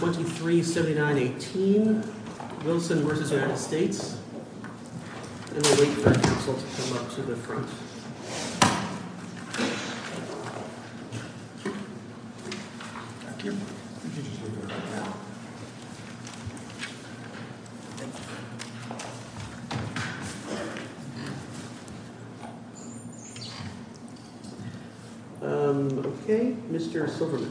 2379 18 Wilson vs. United States and we'll wait for the council to come up to the front. Thank you. Okay, Mr. Silverman.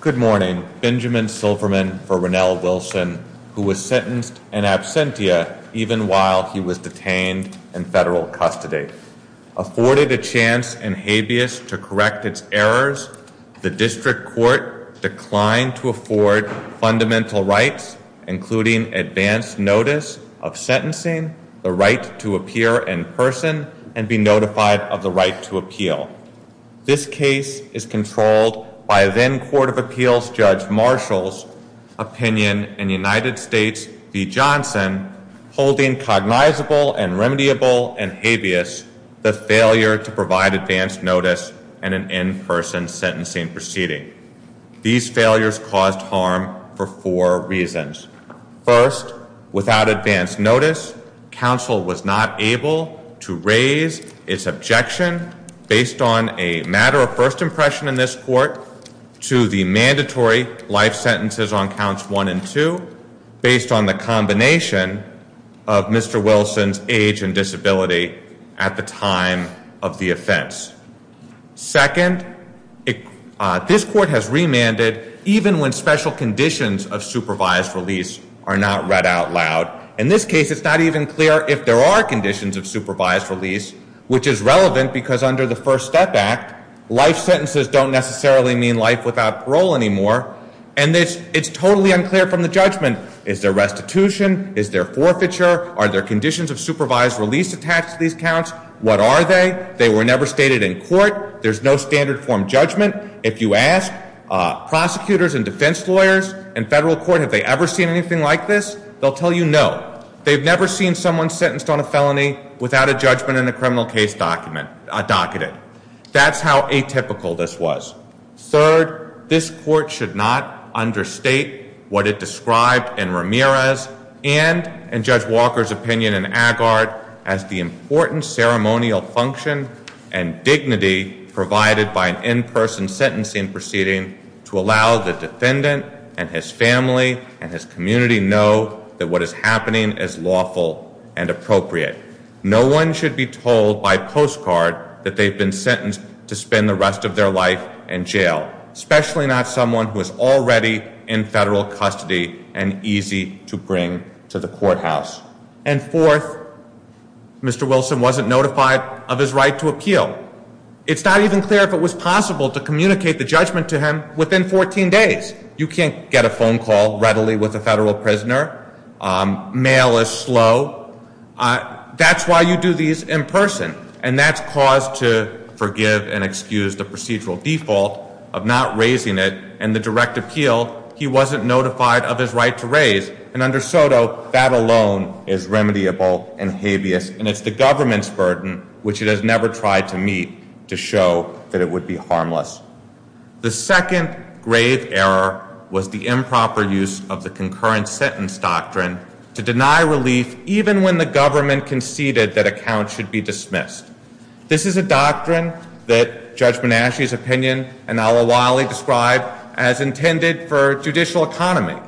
Good morning, Benjamin Silverman for Rennell Wilson, who was sentenced in absentia, even while he was detained in federal custody, afforded a chance and habeas to correct its errors. The district court declined to afford fundamental rights, including advanced notice of sentencing the right to appear in person and be notified of the right to appeal. This case is controlled by then Court of Appeals Judge Marshall's opinion in United States v. Johnson, holding cognizable and remediable and habeas the failure to provide advanced notice and an in-person sentencing proceeding. These failures caused harm for four reasons. First, without advanced notice, council was not able to raise its objection based on a matter of first impression in this court to the mandatory life sentences on counts one and two, based on the combination of Mr. Wilson's age and disability at the time of the offense. Second, this court has remanded even when special conditions of supervised release are not read out loud. In this case, it's not even clear if there are conditions of supervised release, which is relevant because under the First Step Act, life sentences don't necessarily mean life without parole anymore. And it's totally unclear from the judgment. Is there restitution? Is there forfeiture? Are there conditions of supervised release attached to these counts? What are they? They were never stated in court. There's no standard form judgment. If you ask prosecutors and defense lawyers in federal court, have they ever seen anything like this? They'll tell you no. They've never seen someone sentenced on a felony without a judgment in a criminal case docketed. That's how atypical this was. Third, this court should not understate what it described in Ramirez and in Judge Walker's opinion in Agard as the important ceremonial function and dignity provided by an in-person sentencing proceeding to allow the defendant and his family and his community know that what is happening is lawful and appropriate. No one should be told by postcard that they've been sentenced to spend the rest of their life in jail, especially not someone who is already in federal custody and easy to bring to the courthouse. And fourth, Mr. Wilson wasn't notified of his right to appeal. It's not even clear if it was possible to communicate the judgment to him within 14 days. You can't get a phone call readily with a federal prisoner. Mail is slow. That's why you do these in person. And that's cause to forgive and excuse the procedural default of not raising it and the direct appeal. He wasn't notified of his right to raise. And under Soto, that alone is remediable and habeas. And it's the government's burden, which it has never tried to meet, to show that it would be harmless. The second grave error was the improper use of the concurrent sentence doctrine to deny relief even when the government conceded that a count should be dismissed. This is a doctrine that Judge Menasche's opinion and Al-Awali described as intended for judicial economy.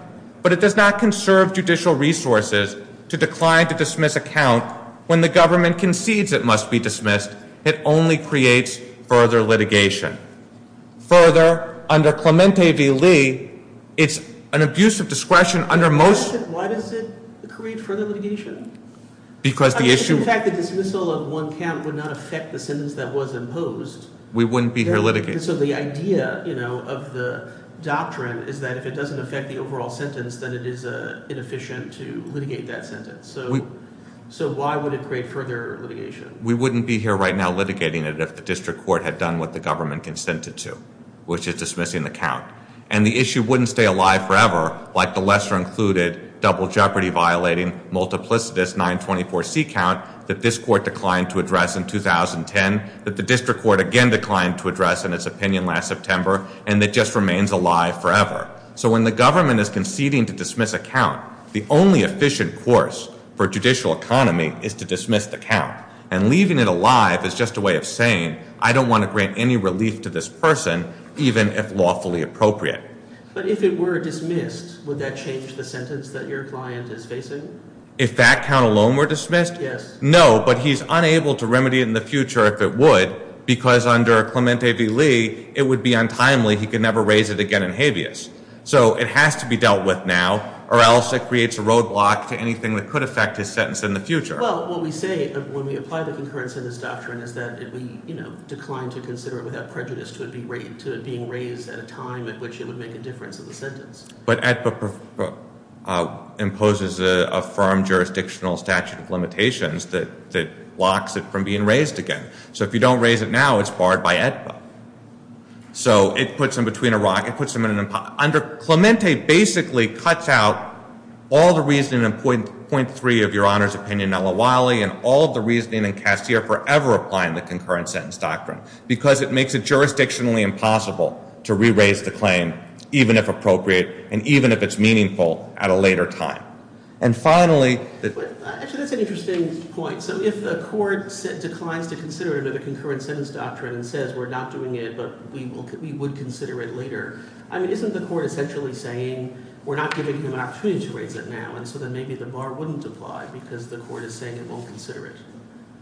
But it does not conserve judicial resources to decline to dismiss a count when the government concedes it must be dismissed. It only creates further litigation. Further, under Clemente v. Lee, it's an abuse of discretion under most... Why does it create further litigation? Because the issue... I mean, if in fact the dismissal of one count would not affect the sentence that was imposed... We wouldn't be here litigating. So the idea of the doctrine is that if it doesn't affect the overall sentence, then it is inefficient to litigate that sentence. So why would it create further litigation? We wouldn't be here right now litigating it if the district court had done what the government consented to, which is dismissing the count. And the issue wouldn't stay alive forever, like the lesser-included, double jeopardy-violating, multiplicitous 924C count that this court declined to address in 2010, that the district court again declined to address in its opinion last September, and that just remains alive forever. So when the government is conceding to dismiss a count, the only efficient course for judicial economy is to dismiss the count. And leaving it alive is just a way of saying, I don't want to grant any relief to this person, even if lawfully appropriate. But if it were dismissed, would that change the sentence that your client is facing? If that count alone were dismissed? Yes. No, but he's unable to remedy it in the future if it would, because under Clemente v. Lee, it would be untimely. He could never raise it again in habeas. So it has to be dealt with now, or else it creates a roadblock to anything that could affect his sentence in the future. Well, what we say when we apply the concurrent sentence doctrine is that it would decline to consider it without prejudice to it being raised at a time at which it would make a difference in the sentence. But AEDPA imposes a firm jurisdictional statute of limitations that blocks it from being raised again. So if you don't raise it now, it's barred by AEDPA. So it puts him between a rock. Under Clemente, basically, cuts out all the reasoning in point three of your Honor's opinion, nulla voli, and all the reasoning in Castillo forever applying the concurrent sentence doctrine, because it makes it jurisdictionally impossible to re-raise the claim, even if appropriate, and even if it's meaningful at a later time. And finally— Actually, that's an interesting point. So if a court declines to consider it under the concurrent sentence doctrine and says we're not doing it, but we would consider it later, I mean, isn't the court essentially saying we're not giving him an opportunity to raise it now, and so then maybe the bar wouldn't apply because the court is saying it won't consider it?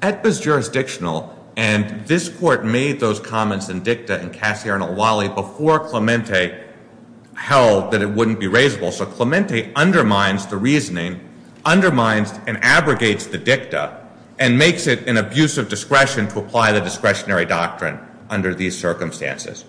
AEDPA's jurisdictional, and this Court made those comments in dicta in Casierno loli before Clemente held that it wouldn't be raisable. So Clemente undermines the reasoning, undermines and abrogates the dicta, and makes it an abuse of discretion to apply the discretionary doctrine under these circumstances.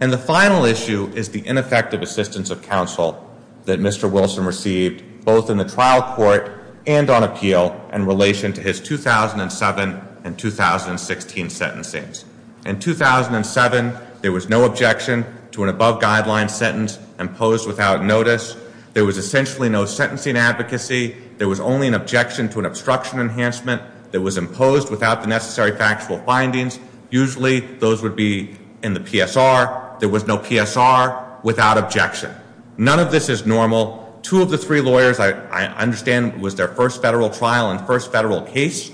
And the final issue is the ineffective assistance of counsel that Mr. Wilson received, both in the trial court and on appeal, in relation to his 2007 and 2016 sentencings. In 2007, there was no objection to an above-guideline sentence imposed without notice. There was essentially no sentencing advocacy. There was only an objection to an obstruction enhancement that was imposed without the necessary factual findings. Usually those would be in the PSR. There was no PSR without objection. None of this is normal. Two of the three lawyers, I understand, was their first federal trial and first federal case,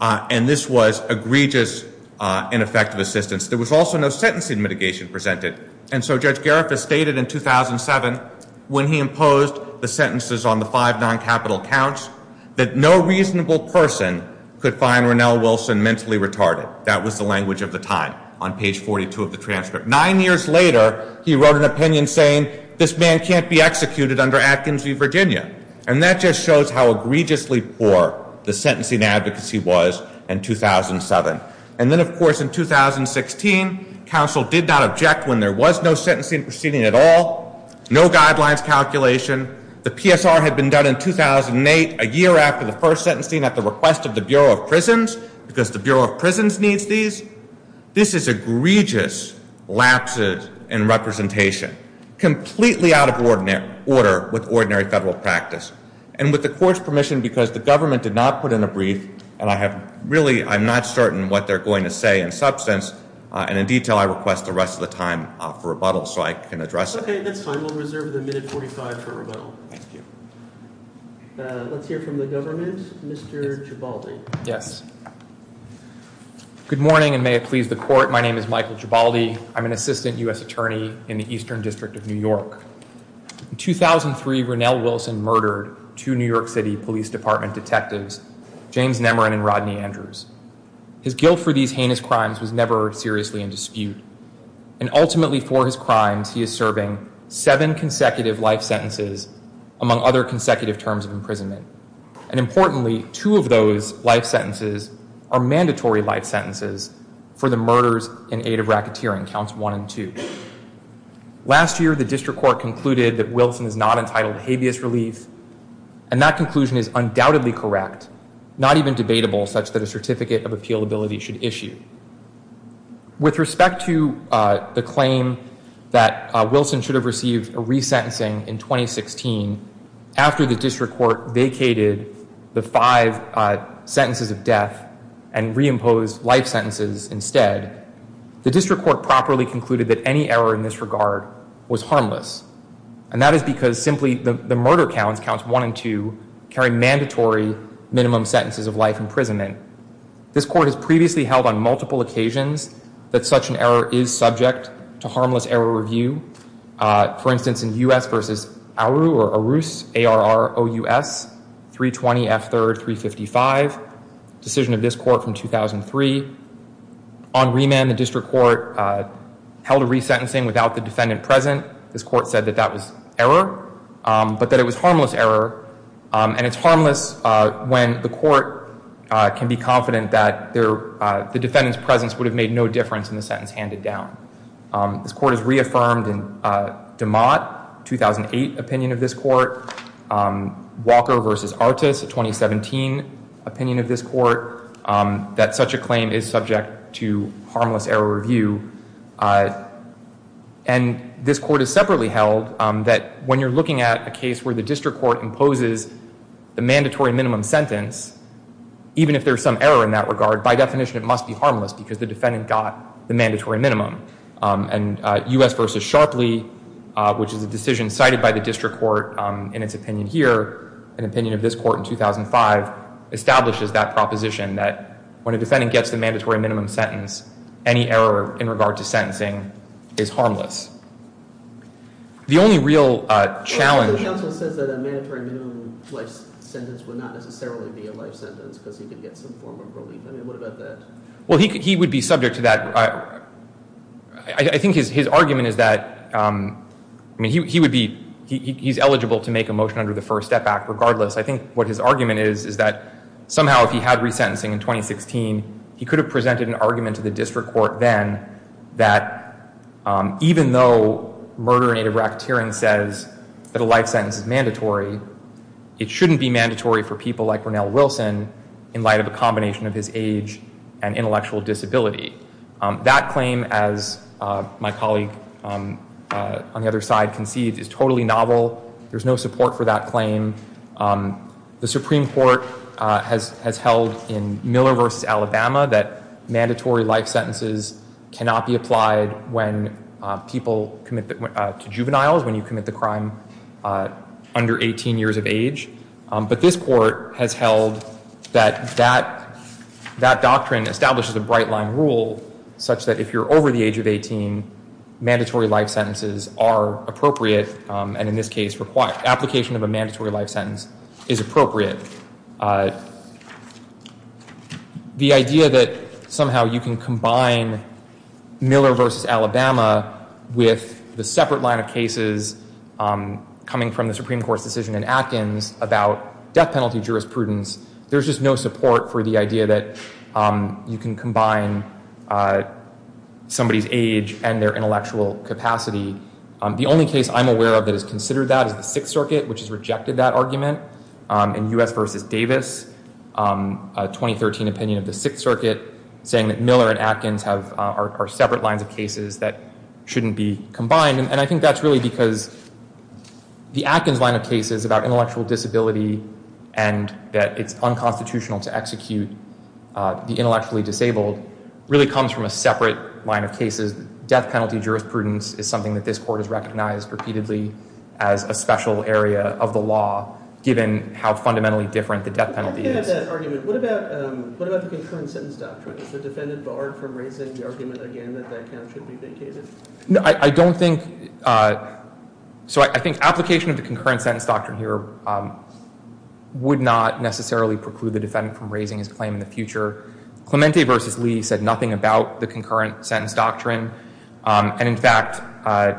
and this was egregious ineffective assistance. There was also no sentencing mitigation presented, and so Judge Gariff has stated in 2007, when he imposed the sentences on the five non-capital counts, that no reasonable person could find Ronell Wilson mentally retarded. That was the language of the time on page 42 of the transcript. Nine years later, he wrote an opinion saying, this man can't be executed under Atkins v. Virginia, and that just shows how egregiously poor the sentencing advocacy was in 2007. And then, of course, in 2016, counsel did not object when there was no sentencing proceeding at all, no guidelines calculation. The PSR had been done in 2008, a year after the first sentencing at the request of the Bureau of Prisons, because the Bureau of Prisons needs these. This is egregious lapses in representation, completely out of order with ordinary federal practice. And with the Court's permission, because the government did not put in a brief, and I have really, I'm not certain what they're going to say in substance, and in detail, I request the rest of the time for rebuttal so I can address it. Okay, that's fine. We'll reserve the minute 45 for rebuttal. Thank you. Let's hear from the government. Mr. Gibaldi. Yes. Good morning, and may it please the Court. My name is Michael Gibaldi. I'm an assistant U.S. attorney in the Eastern District of New York. In 2003, Ronell Wilson murdered two New York City Police Department detectives, James Nemarin and Rodney Andrews. His guilt for these heinous crimes was never seriously in dispute. And ultimately for his crimes, he is serving seven consecutive life sentences, among other consecutive terms of imprisonment. And importantly, two of those life sentences are mandatory life sentences for the murders in aid of racketeering, counts one and two. Last year, the District Court concluded that Wilson is not entitled to habeas relief, and that conclusion is undoubtedly correct, not even debatable, such that a certificate of appealability should issue. With respect to the claim that Wilson should have received a resentencing in 2016 after the District Court vacated the five sentences of death and reimposed life sentences instead, the District Court properly concluded that any error in this regard was harmless. And that is because simply the murder counts, counts one and two, carry mandatory minimum sentences of life imprisonment. This Court has previously held on multiple occasions that such an error is subject to harmless error review. For instance, in U.S. v. Aru, or Arus, A-R-R-O-U-S, 320 F. 3rd, 355, decision of this Court from 2003, on remand the District Court held a resentencing without the defendant present. This Court said that that was error, but that it was harmless error. And it's harmless when the Court can be confident that the defendant's presence would have made no difference in the sentence handed down. This Court has reaffirmed in DeMott, 2008 opinion of this Court, Walker v. Artis, a 2017 opinion of this Court, that such a claim is subject to harmless error review. And this Court has separately held that when you're looking at a case where the District Court imposes the mandatory minimum sentence, even if there's some error in that regard, by definition it must be harmless because the defendant got the mandatory minimum. And U.S. v. Sharpley, which is a decision cited by the District Court in its opinion here, an opinion of this Court in 2005, establishes that proposition that when a defendant gets the mandatory minimum sentence, any error in regard to sentencing is harmless. The only real challenge— Well, the counsel says that a mandatory minimum life sentence would not necessarily be a life sentence because he could get some form of relief. I mean, what about that? Well, he would be subject to that— I think his argument is that— I mean, he would be—he's eligible to make a motion under the First Step Act regardless. I think what his argument is is that somehow if he had resentencing in 2016, he could have presented an argument to the District Court then that even though murder in a racketeering says that a life sentence is mandatory, it shouldn't be mandatory for people like Ronell Wilson in light of a combination of his age and intellectual disability. That claim, as my colleague on the other side concedes, is totally novel. There's no support for that claim. The Supreme Court has held in Miller v. Alabama that mandatory life sentences cannot be applied to juveniles when you commit the crime under 18 years of age. But this Court has held that that doctrine establishes a bright-line rule such that if you're over the age of 18, mandatory life sentences are appropriate and in this case, application of a mandatory life sentence is appropriate. The idea that somehow you can combine Miller v. Alabama with the separate line of cases coming from the Supreme Court's decision in Atkins about death penalty jurisprudence, there's just no support for the idea that you can combine somebody's age and their intellectual capacity. The only case I'm aware of that has considered that is the Sixth Circuit which has rejected that argument in U.S. v. Davis, a 2013 opinion of the Sixth Circuit saying that Miller and Atkins are separate lines of cases that shouldn't be combined. And I think that's really because the Atkins line of cases about intellectual disability and that it's unconstitutional to execute the intellectually disabled really comes from a separate line of cases. Death penalty jurisprudence is something that this Court has recognized repeatedly as a special area of the law given how fundamentally different the death penalty is. What about the concurrent sentence doctrine? Is the defendant barred from raising the argument again that death penalty should be vacated? No, I don't think. So I think application of the concurrent sentence doctrine here would not necessarily preclude the defendant from raising his claim in the future. Clemente v. Lee said nothing about the concurrent sentence doctrine. And in fact, I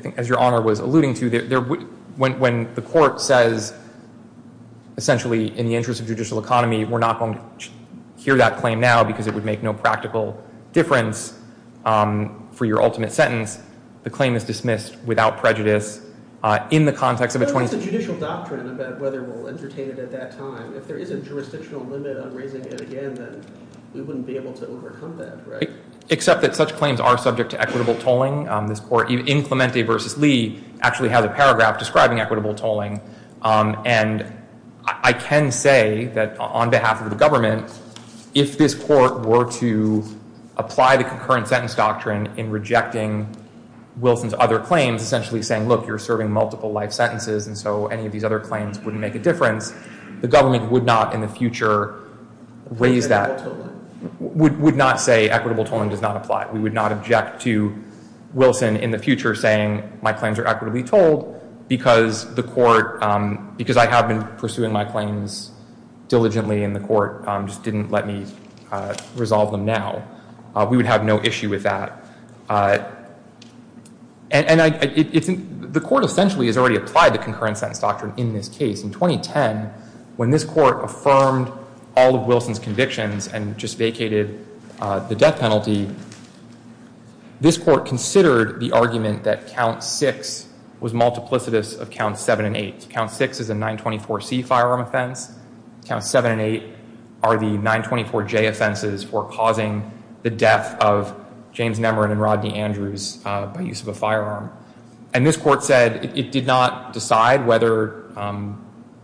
think as Your Honor was alluding to, when the Court says essentially in the interest of judicial economy, we're not going to hear that claim now because it would make no practical difference for your ultimate sentence. The claim is dismissed without prejudice in the context of a 20- But what's the judicial doctrine about whether we'll entertain it at that time? If there is a jurisdictional limit on raising it again, then we wouldn't be able to overcome that, right? Except that such claims are subject to equitable tolling. This Court in Clemente v. Lee actually has a paragraph describing equitable tolling. And I can say that on behalf of the government, if this Court were to apply the concurrent sentence doctrine in rejecting Wilson's other claims, essentially saying, look, you're serving multiple life sentences and so any of these other claims wouldn't make a difference, the government would not in the future raise that- Equitable tolling. Would not say equitable tolling does not apply. We would not object to Wilson in the future saying my claims are equitably tolled because the Court- because I have been pursuing my claims diligently and the Court just didn't let me resolve them now. We would have no issue with that. And the Court essentially has already applied the concurrent sentence doctrine in this case. In 2010, when this Court affirmed all of Wilson's convictions and just vacated the death penalty, this Court considered the argument that Count 6 was multiplicitous of Counts 7 and 8. Count 6 is a 924C firearm offense. Counts 7 and 8 are the 924J offenses for causing the death of James Nemirin and Rodney Andrews by use of a firearm. And this Court said it did not decide whether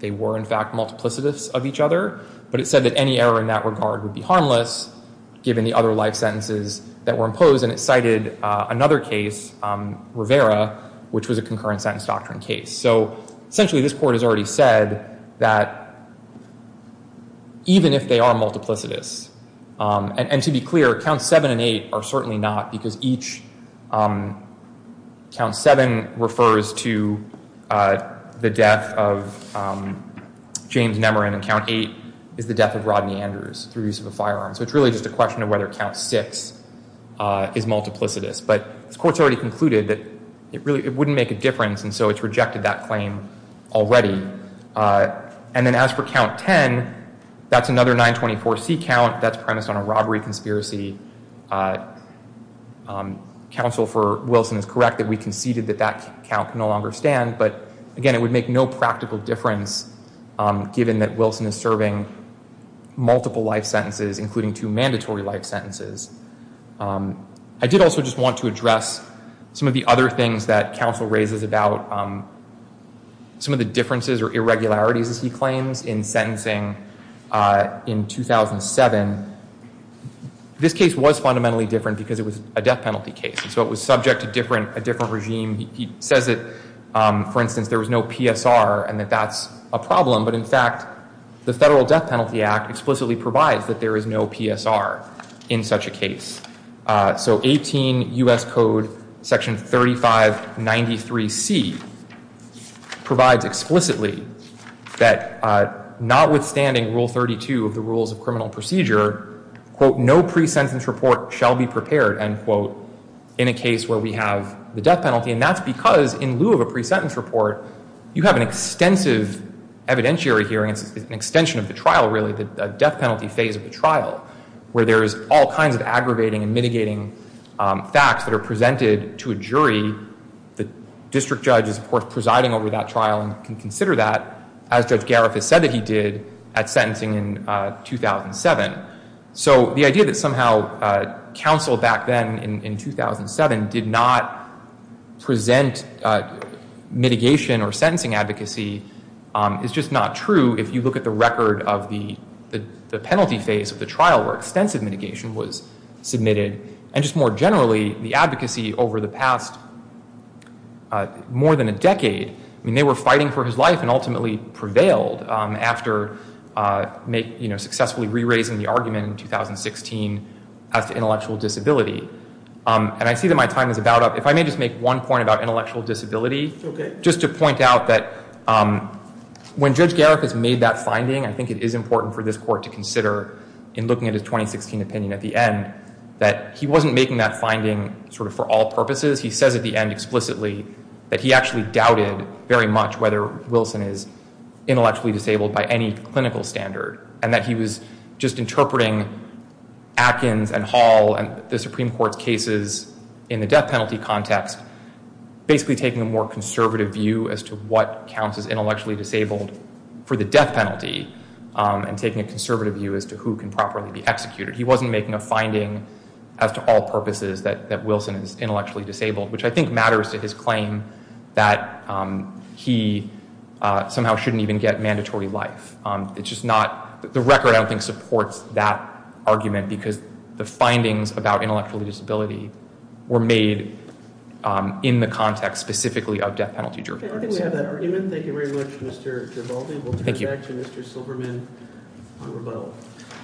they were in fact multiplicitous of each other, but it said that any error in that regard would be harmless given the other life sentences that were imposed. And it cited another case, Rivera, which was a concurrent sentence doctrine case. So essentially this Court has already said that even if they are multiplicitous- and to be clear, Counts 7 and 8 are certainly not because each- Count 7 refers to the death of James Nemirin and Count 8 is the death of Rodney Andrews through use of a firearm. So it's really just a question of whether Count 6 is multiplicitous. But this Court's already concluded that it wouldn't make a difference and so it's rejected that claim already. And then as for Count 10, that's another 924C count that's premised on a robbery conspiracy. Counsel for Wilson is correct that we conceded that that count can no longer stand, but again it would make no practical difference given that Wilson is serving multiple life sentences, including two mandatory life sentences. I did also just want to address some of the other things that Counsel raises about some of the differences or irregularities, as he claims, in sentencing in 2007. This case was fundamentally different because it was a death penalty case and so it was subject to a different regime. He says that, for instance, there was no PSR and that that's a problem, but in fact the Federal Death Penalty Act explicitly provides that there is no PSR in such a case. So 18 U.S. Code Section 3593C provides explicitly that notwithstanding Rule 32 of the Rules of Criminal Procedure, quote, no pre-sentence report shall be prepared, end quote, in a case where we have the death penalty. And that's because in lieu of a pre-sentence report, you have an extensive evidentiary hearing. It's an extension of the trial, really, the death penalty phase of the trial, where there is all kinds of aggravating and mitigating facts that are presented to a jury. The district judge is, of course, presiding over that trial and can consider that, as Judge Garifuss said that he did at sentencing in 2007. So the idea that somehow counsel back then in 2007 did not present mitigation or sentencing advocacy is just not true if you look at the record of the penalty phase of the trial where extensive mitigation was submitted. And just more generally, the advocacy over the past more than a decade, I mean, they were fighting for his life and ultimately prevailed after successfully re-raising the argument in 2016 as to intellectual disability. And I see that my time is about up. If I may just make one point about intellectual disability, just to point out that when Judge Garifuss made that finding, I think it is important for this Court to consider in looking at his 2016 opinion at the end that he wasn't making that finding sort of for all purposes. He says at the end explicitly that he actually doubted very much whether Wilson is intellectually disabled by any clinical standard and that he was just interpreting Atkins and Hall and the Supreme Court's cases in the death penalty context, basically taking a more conservative view as to what counts as intellectually disabled for the death penalty and taking a conservative view as to who can properly be executed. He wasn't making a finding as to all purposes that Wilson is intellectually disabled, which I think matters to his claim that he somehow shouldn't even get mandatory life. The record, I don't think, supports that argument because the findings about intellectual disability were made in the context specifically of death penalty jury arguments. I think we have that argument. Thank you very much, Mr. Gervaldi. We'll turn it back to Mr. Silberman to rebuttal.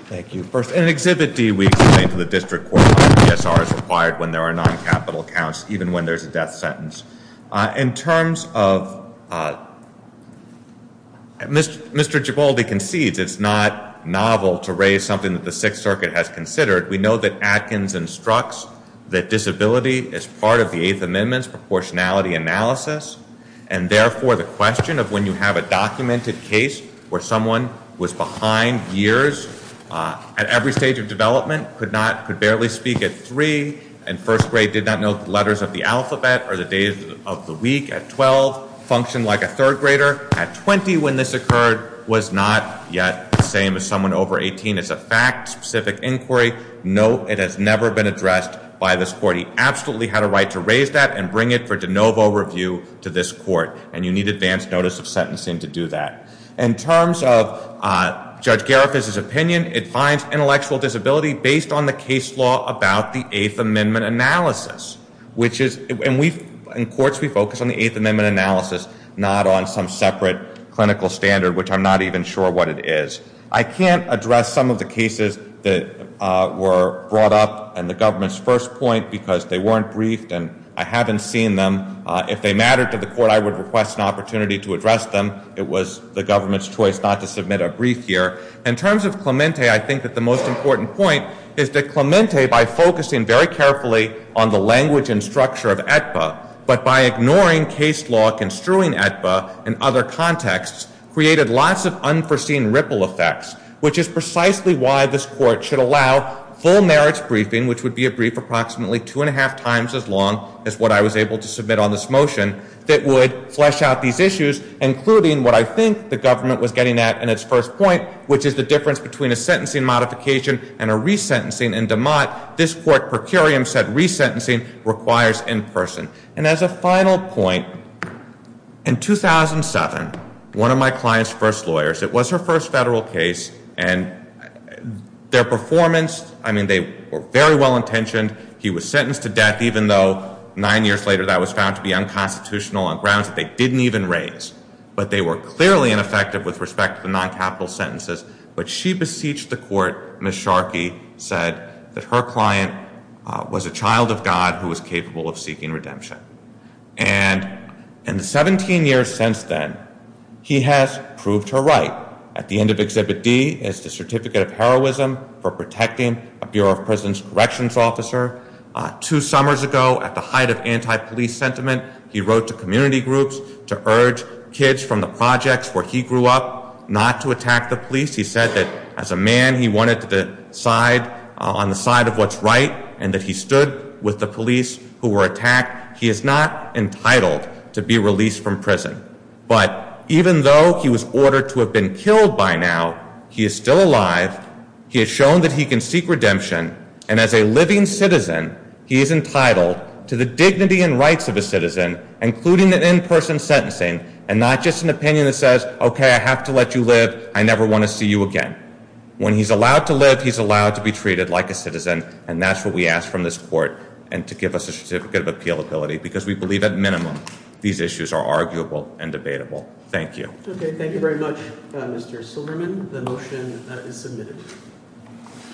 Thank you. First, in Exhibit D, we explain to the district court that PSR is required when there are non-capital counts, even when there's a death sentence. In terms of Mr. Gervaldi concedes it's not novel to raise something that the Sixth Circuit has considered. We know that Atkins instructs that disability is part of the Eighth Amendment's proportionality analysis and, therefore, the question of when you have a documented case where someone was behind years at every stage of development, could barely speak at three, and first grade did not know the letters of the alphabet or the days of the week at 12, functioned like a third grader at 20 when this occurred, was not yet the same as someone over 18. It's a fact-specific inquiry. No, it has never been addressed by this court. He absolutely had a right to raise that and bring it for de novo review to this court, and you need advance notice of sentencing to do that. In terms of Judge Garifuz's opinion, it finds intellectual disability based on the case law about the Eighth Amendment analysis, and in courts we focus on the Eighth Amendment analysis, not on some separate clinical standard, which I'm not even sure what it is. I can't address some of the cases that were brought up in the government's first point because they weren't briefed and I haven't seen them. If they mattered to the court, I would request an opportunity to address them. It was the government's choice not to submit a brief here. In terms of Clemente, I think that the most important point is that Clemente, by focusing very carefully on the language and structure of Aetba, but by ignoring case law construing Aetba in other contexts, created lots of unforeseen ripple effects, which is precisely why this court should allow full merits briefing, which would be a brief approximately two and a half times as long as what I was able to submit on this motion, that would flesh out these issues, including what I think the government was getting at in its first point, which is the difference between a sentencing modification and a resentencing in DeMott. This court, per curiam, said resentencing requires in person. And as a final point, in 2007, one of my client's first lawyers, it was her first federal case, and their performance, I mean, they were very well intentioned. He was sentenced to death, even though nine years later that was found to be unconstitutional on grounds that they didn't even raise. But they were clearly ineffective with respect to the non-capital sentences. But she beseeched the court. Ms. Sharkey said that her client was a child of God who was capable of seeking redemption. And in the 17 years since then, he has proved her right. At the end of Exhibit D is the Certificate of Heroism for Protecting a Bureau of Prisons Corrections Officer. Two summers ago, at the height of anti-police sentiment, he wrote to community groups to urge kids from the projects where he grew up not to attack the police. He said that as a man, he wanted to decide on the side of what's right and that he stood with the police who were attacked. He is not entitled to be released from prison. But even though he was ordered to have been killed by now, he is still alive. He has shown that he can seek redemption. And as a living citizen, he is entitled to the dignity and rights of a citizen, including an in-person sentencing, and not just an opinion that says, okay, I have to let you live, I never want to see you again. When he's allowed to live, he's allowed to be treated like a citizen, and that's what we ask from this court and to give us a Certificate of Appealability because we believe at minimum these issues are arguable and debatable. Thank you. Okay, thank you very much, Mr. Silverman. The motion is submitted.